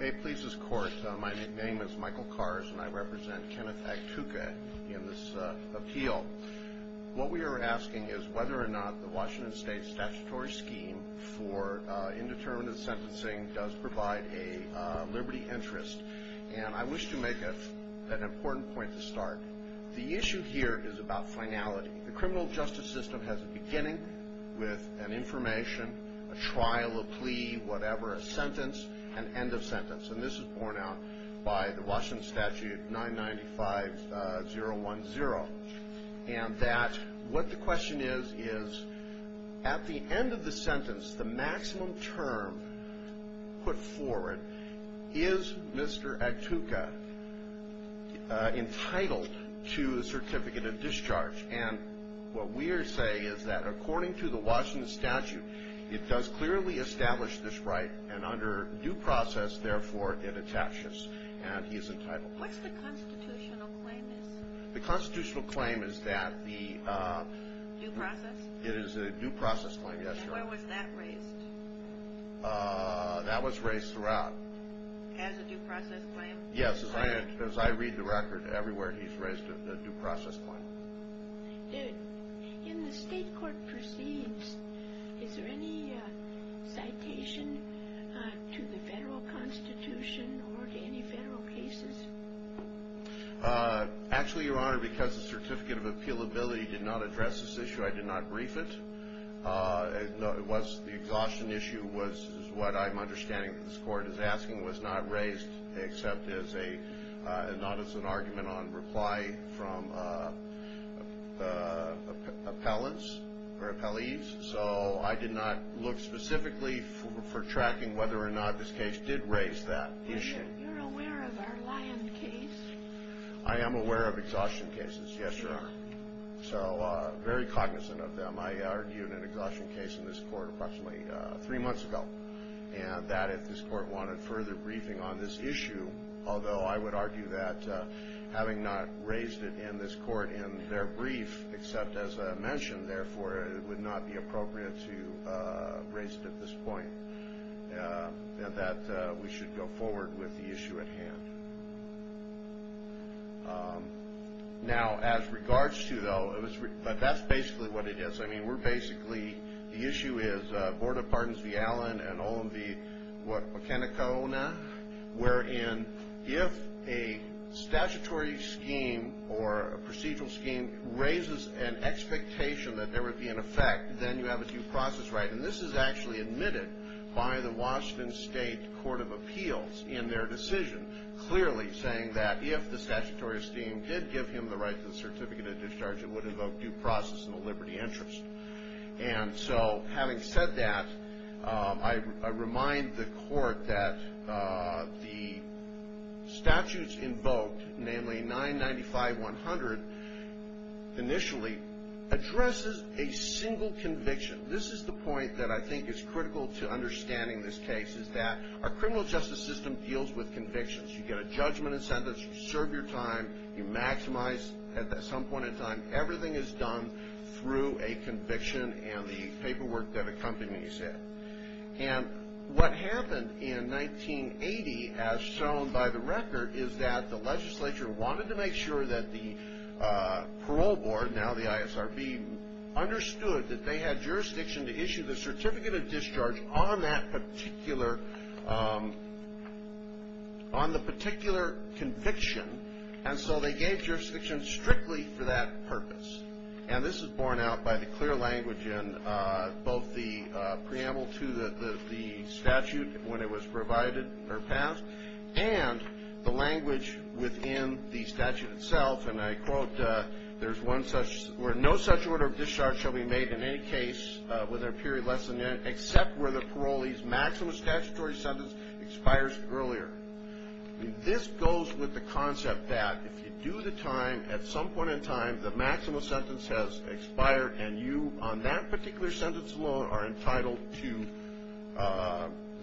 Hey, Pleasers Court. My name is Michael Kars and I represent Kenneth Actuca in this appeal. What we are asking is whether or not the Washington State statutory scheme for indeterminate sentencing does provide a liberty interest. And I wish to make an important point to start. The issue here is about finality. The criminal justice system has a beginning with an information, a trial, a plea, whatever, a sentence, an end of sentence. And this is borne out by the Washington statute 995-010. And that what the question is, is at the end of the sentence, the maximum term put forward, is Mr. Actuca entitled to a certificate of discharge? And what we are saying is that according to the Washington statute, it does clearly establish this right, and under due process, therefore, it attaches, and he is entitled. What's the constitutional claim is? The constitutional claim is that the... Due process? It is a due process claim, yes, Your Honor. And where was that raised? That was raised throughout. As a due process claim? Yes, as I read the record, everywhere he's raised a due process claim. In the state court proceeds, is there any citation to the federal constitution or to any federal cases? Actually, Your Honor, because the certificate of appealability did not address this issue, I did not brief it. It was the exhaustion issue was what I'm understanding this court is asking was not raised, except as an argument on reply from appellants or appellees. So I did not look specifically for tracking whether or not this case did raise that issue. You're aware of our Lyon case? So very cognizant of them. I argued an exhaustion case in this court approximately three months ago, and that if this court wanted further briefing on this issue, although I would argue that having not raised it in this court in their brief, except as a mention, therefore it would not be appropriate to raise it at this point, that we should go forward with the issue at hand. Now, as regards to, though, but that's basically what it is. I mean, we're basically, the issue is Board of Pardons v. Allen and Olin v. Wakanakaona, wherein if a statutory scheme or a procedural scheme raises an expectation that there would be an effect, then you have a due process right. And this is actually admitted by the Washington State Court of Appeals in their decision. Clearly saying that if the statutory scheme did give him the right to the certificate of discharge, it would invoke due process in the liberty interest. And so having said that, I remind the court that the statutes invoked, namely 995-100, initially addresses a single conviction. This is the point that I think is critical to understanding this case, is that our criminal justice system deals with convictions. You get a judgment and sentence. You serve your time. You maximize at some point in time. Everything is done through a conviction and the paperwork that accompanies it. And what happened in 1980, as shown by the record, is that the legislature wanted to make sure that the parole board, now the ISRB, understood that they had jurisdiction to issue the certificate of discharge on that particular on the particular conviction. And so they gave jurisdiction strictly for that purpose. And this is borne out by the clear language in both the preamble to the statute when it was provided or passed and the language within the statute itself. And I quote, there's one such, where no such order of discharge shall be made in any case with a period less than a year, except where the parolee's maximum statutory sentence expires earlier. This goes with the concept that if you do the time, at some point in time, the maximum sentence has expired and you, on that particular sentence alone, are entitled to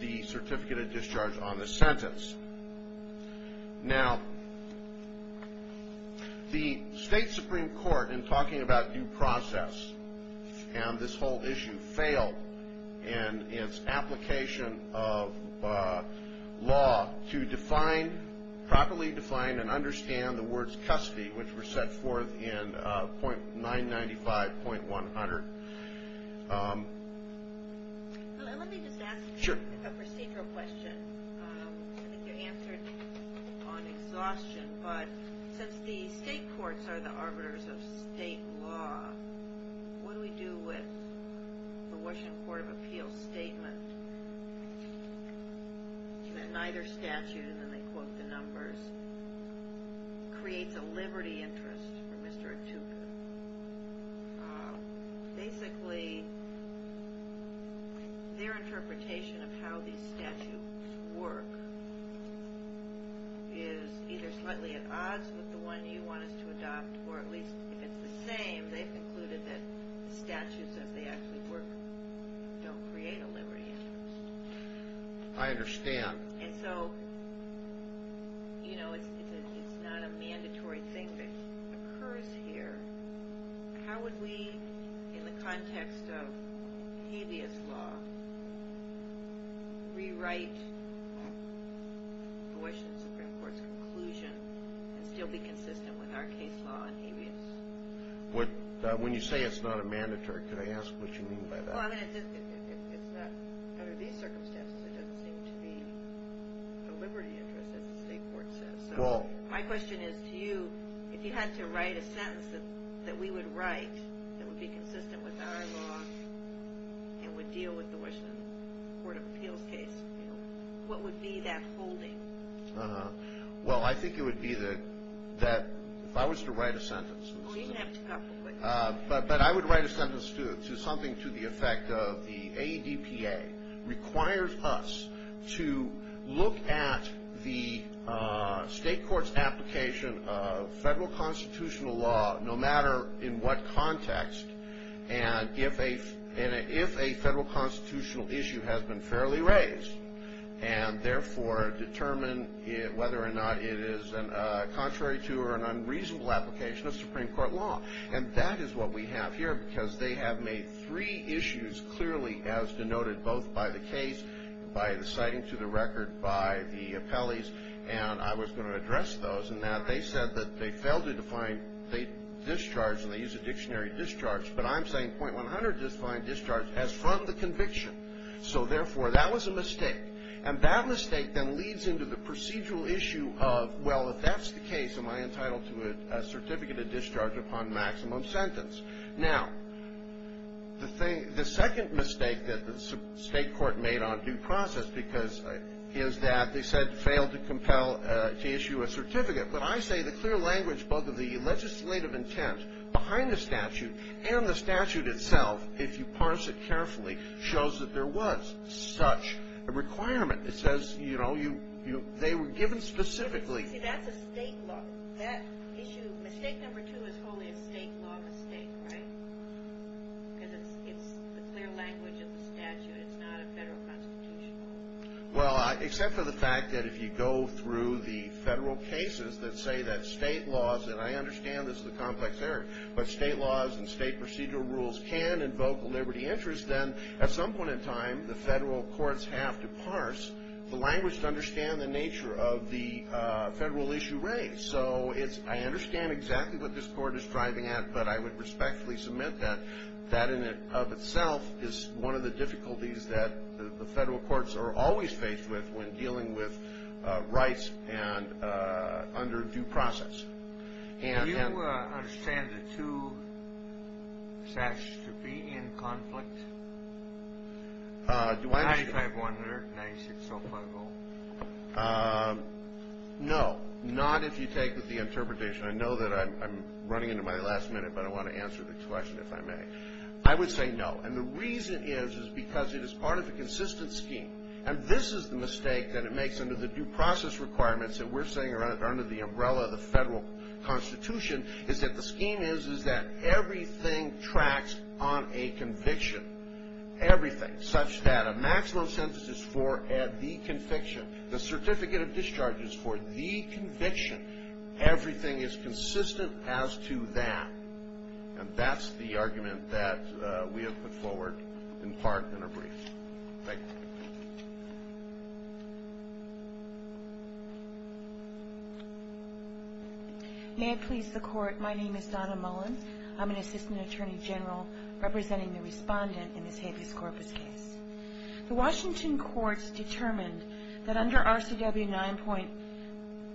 the certificate of discharge on the sentence. Now, the state supreme court, in talking about due process, and this whole issue, failed in its application of law to define, properly define and understand the words custody, which were set forth in 995.100. Let me just ask a procedural question. I think you answered on exhaustion, but since the state courts are the arbiters of state law, what do we do with the Washington Court of Appeals statement that neither statute, and then they quote the numbers, creates a liberty interest for Mr. Attuka? Basically, their interpretation of how these statutes work is either slightly at odds with the one you want us to adopt, or at least if it's the same, they've concluded that the statutes as they actually work don't create a liberty interest. I understand. And so, you know, it's not a mandatory thing that occurs here. How would we, in the context of habeas law, rewrite the Washington Supreme Court's conclusion and still be consistent with our case law on habeas? When you say it's not a mandatory, could I ask what you mean by that? Under these circumstances, it doesn't seem to be a liberty interest, as the state court says. My question is to you, if you had to write a sentence that we would write that would be consistent with our law and would deal with the Washington Court of Appeals case, what would be that holding? Well, I think it would be that if I was to write a sentence, but I would write a sentence to something to the effect of the ADPA requires us to look at the state court's application of federal constitutional law, no matter in what context, and if a federal constitutional issue has been fairly raised and, therefore, determine whether or not it is contrary to or an unreasonable application of Supreme Court law. And that is what we have here, because they have made three issues clearly as denoted both by the case, by the citing to the record by the appellees, and I was going to address those in that. They said that they failed to define state discharge, and they use the dictionary discharge, but I'm saying .100 defined discharge as from the conviction. So, therefore, that was a mistake. And that mistake then leads into the procedural issue of, well, if that's the case, am I entitled to a certificate of discharge upon maximum sentence? Now, the second mistake that the state court made on due process is that they said failed to issue a certificate, but I say the clear language both of the legislative intent behind the statute and the statute itself, if you parse it carefully, shows that there was such a requirement. It says, you know, they were given specifically. See, that's a state law. That issue, mistake number two is only a state law mistake, right? Because it's the clear language of the statute. It's not a federal constitutional law. Well, except for the fact that if you go through the federal cases that say that state laws, and I understand this is a complex area, but state laws and state procedural rules can invoke a liberty interest, then at some point in time, the federal courts have to parse the language to understand the nature of the federal issue raised. So, I understand exactly what this court is striving at, but I would respectfully submit that that in and of itself is one of the difficulties that the federal courts are always faced with when dealing with rights under due process. Do you understand the two statutes to be in conflict? Do I understand? 95-100, 96-05-0. No, not if you take the interpretation. I know that I'm running into my last minute, but I want to answer the question if I may. I would say no. And the reason is, is because it is part of a consistent scheme. And this is the mistake that it makes under the due process requirements that we're saying are under the umbrella of the federal constitution, is that the scheme is that everything tracks on a conviction. Everything. Such that a maximum sentence is for the conviction. The certificate of discharge is for the conviction. Everything is consistent as to that. And that's the argument that we have put forward in part in a brief. Thank you. May it please the court, my name is Donna Mullen. I'm an assistant attorney general representing the respondent in this habeas corpus case. The Washington courts determined that under RCW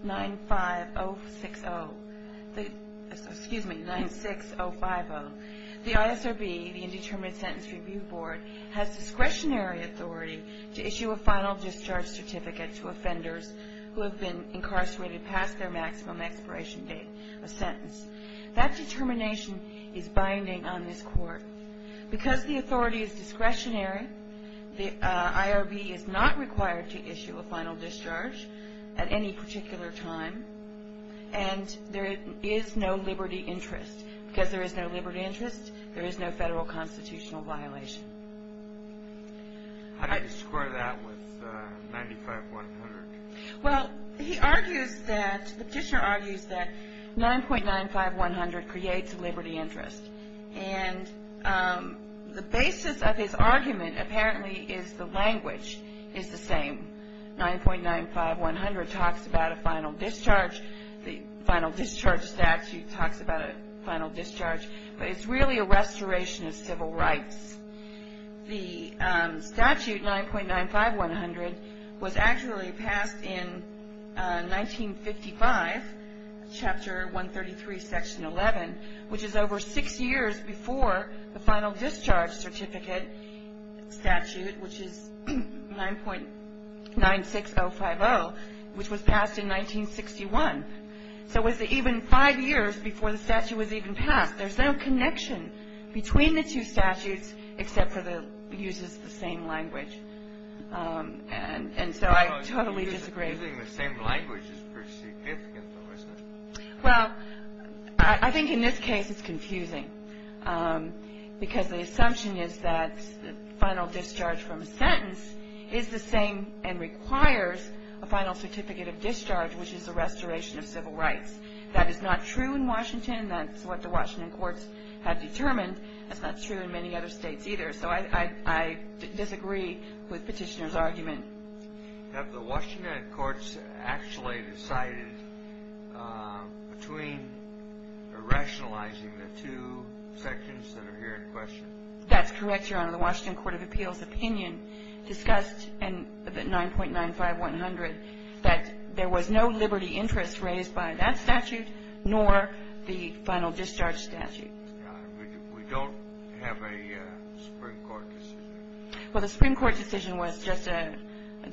9.95060, excuse me, 96050, the ISRB, the Indeterminate Sentence Review Board, has discretionary authority to issue a final discharge certificate to offenders who have been incarcerated past their maximum expiration date of sentence. That determination is binding on this court. Because the authority is discretionary, the IRB is not required to issue a final discharge at any particular time. And there is no liberty interest. Because there is no liberty interest, there is no federal constitutional violation. How do you square that with 95100? Well, he argues that, the petitioner argues that 9.95100 creates a liberty interest. And the basis of his argument apparently is the language is the same. 9.95100 talks about a final discharge. The final discharge statute talks about a final discharge. But it's really a restoration of civil rights. The statute 9.95100 was actually passed in 1955, Chapter 133, Section 11, which is over six years before the final discharge certificate statute, which is 9.96050, which was passed in 1961. So it was even five years before the statute was even passed. There's no connection between the two statutes except for the use of the same language. And so I totally disagree. Using the same language is pretty significant, though, isn't it? Well, I think in this case it's confusing. Because the assumption is that the final discharge from a sentence is the same and requires a final certificate of discharge, which is a restoration of civil rights. That is not true in Washington. That's what the Washington courts have determined. That's not true in many other states either. So I disagree with Petitioner's argument. Have the Washington courts actually decided between rationalizing the two sections that are here in question? That's correct, Your Honor. The Washington Court of Appeals opinion discussed in the 9.95100 that there was no liberty interest raised by that statute nor the final discharge statute. We don't have a Supreme Court decision. Well, the Supreme Court decision was just a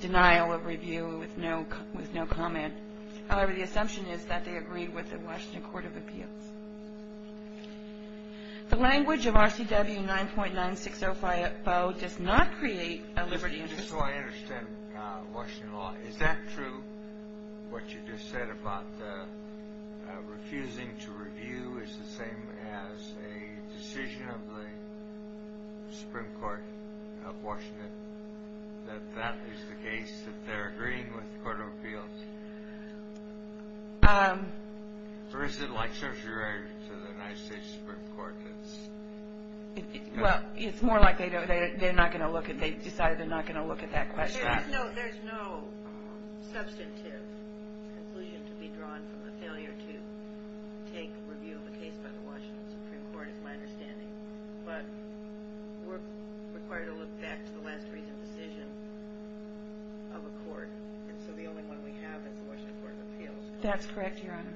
denial of review with no comment. However, the assumption is that they agreed with the Washington Court of Appeals. The language of RCW 9.96050 does not create a liberty interest. Just so I understand, Washington law, is that true, what you just said about refusing to review is the same as a decision of the Supreme Court of Washington, that that is the case, that they're agreeing with the Court of Appeals? Or is it like certiorari to the United States Supreme Court? Well, it's more like they're not going to look at it. They decided they're not going to look at that question. There's no substantive conclusion to be drawn from the failure to take review of a case by the Washington Supreme Court, is my understanding. But we're required to look back to the last reasoned decision of a court. And so the only one we have is the Washington Court of Appeals. That's correct, Your Honor.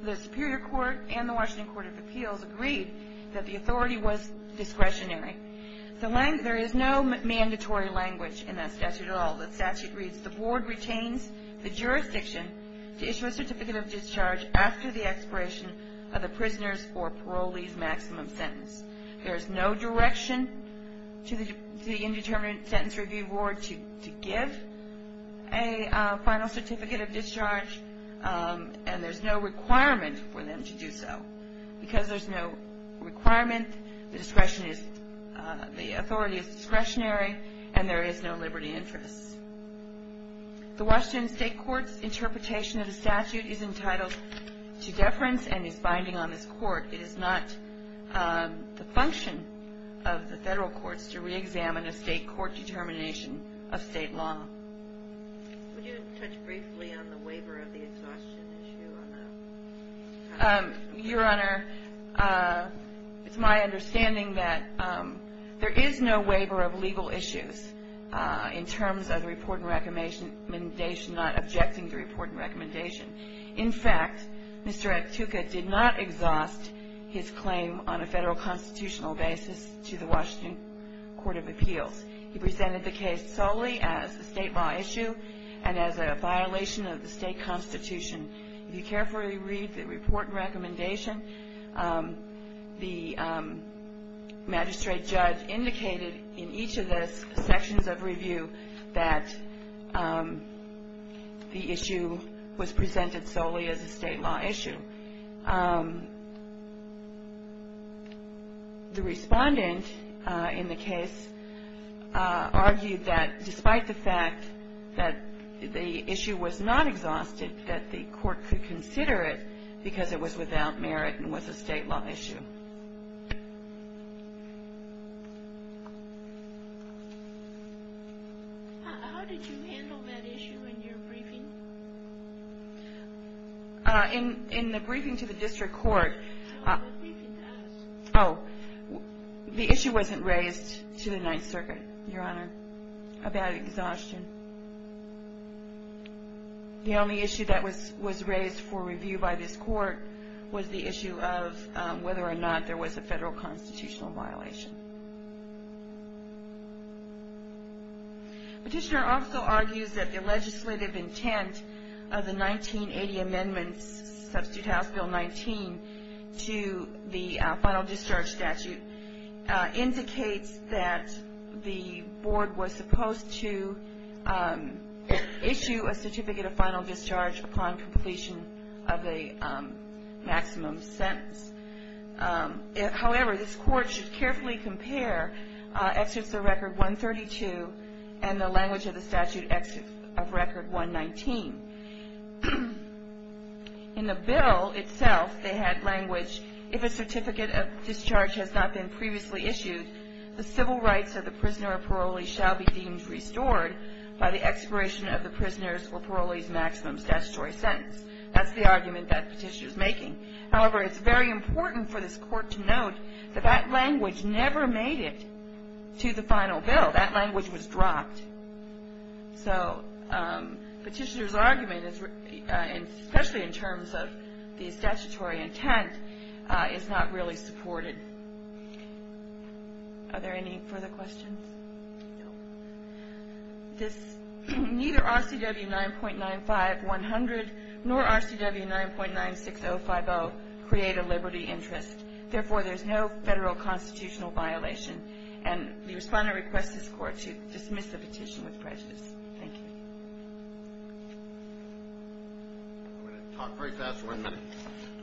The Superior Court and the Washington Court of Appeals agreed that the authority was discretionary. There is no mandatory language in that statute at all. The statute reads, the Board retains the jurisdiction to issue a certificate of discharge after the expiration of the prisoner's or parolee's maximum sentence. There is no direction to the Indeterminate Sentence Review Board to give a final certificate of discharge, and there's no requirement for them to do so. Because there's no requirement, the authority is discretionary, and there is no liberty interest. The Washington State Court's interpretation of the statute is entitled to deference and is binding on this Court. It is not the function of the federal courts to reexamine a state court determination of state law. Would you touch briefly on the waiver of the exhaustion issue on that? Your Honor, it's my understanding that there is no waiver of legal issues in terms of the report and recommendation, not objecting the report and recommendation. In fact, Mr. Aktuka did not exhaust his claim on a federal constitutional basis to the Washington Court of Appeals. He presented the case solely as a state law issue and as a violation of the state constitution. If you carefully read the report and recommendation, the magistrate judge indicated in each of the sections of review that the issue was presented solely as a state law issue. The respondent in the case argued that despite the fact that the issue was not exhausted, that the court could consider it because it was without merit and was a state law issue. How did you handle that issue in your briefing? In the briefing to the district court. No, the briefing to us. Oh, the issue wasn't raised to the Ninth Circuit, Your Honor, about exhaustion. The only issue that was raised for review by this court was the issue of whether or not there was a federal constitutional violation. Petitioner also argues that the legislative intent of the 1980 amendments, Substitute House Bill 19, to the final discharge statute indicates that the board was supposed to issue a certificate of final discharge upon completion of a maximum sentence. However, this court should carefully compare Excerpts of Record 132 and the language of the statute Excerpt of Record 119. In the bill itself, they had language, if a certificate of discharge has not been previously issued, the civil rights of the prisoner or parolee shall be deemed restored by the expiration of the prisoner's or parolee's maximum statutory sentence. That's the argument that petitioner is making. However, it's very important for this court to note that that language never made it to the final bill. That language was dropped. So, petitioner's argument, especially in terms of the statutory intent, is not really supported. Are there any further questions? Neither RCW 9.95-100 nor RCW 9.96050 create a liberty interest. Therefore, there's no federal constitutional violation. And the respondent requests his court to dismiss the petition with prejudice. Thank you. I'm going to talk very fast for one minute.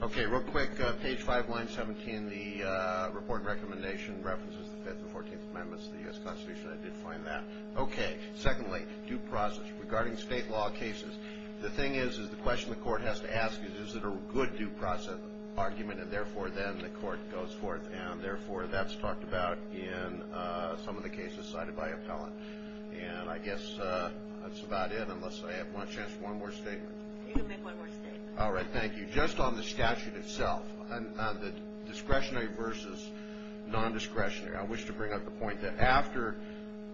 Okay, real quick. Page 5, line 17, the report recommendation references the Fifth and Fourteenth Amendments of the U.S. Constitution. I did find that. Okay. Secondly, due process. Regarding state law cases, the thing is, is the question the court has to ask is, is it a good due process argument? And, therefore, then the court goes forth. And, therefore, that's talked about in some of the cases cited by appellant. And I guess that's about it, unless I have one chance for one more statement. You can make one more statement. All right, thank you. Just on the statute itself, on the discretionary versus non-discretionary, I wish to bring up the point that after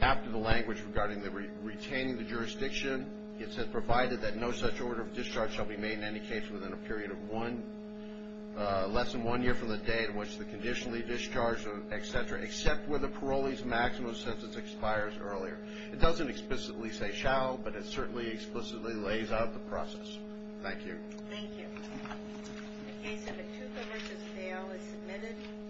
the language regarding retaining the jurisdiction, it says, provided that no such order of discharge shall be made in any case within a period of less than one year from the day in which the conditionally discharged, et cetera, except where the parolee's maximum sentence expires earlier. It doesn't explicitly say shall, but it certainly explicitly lays out the process. Thank you. Thank you. The case of Etuka v. Dale is submitted.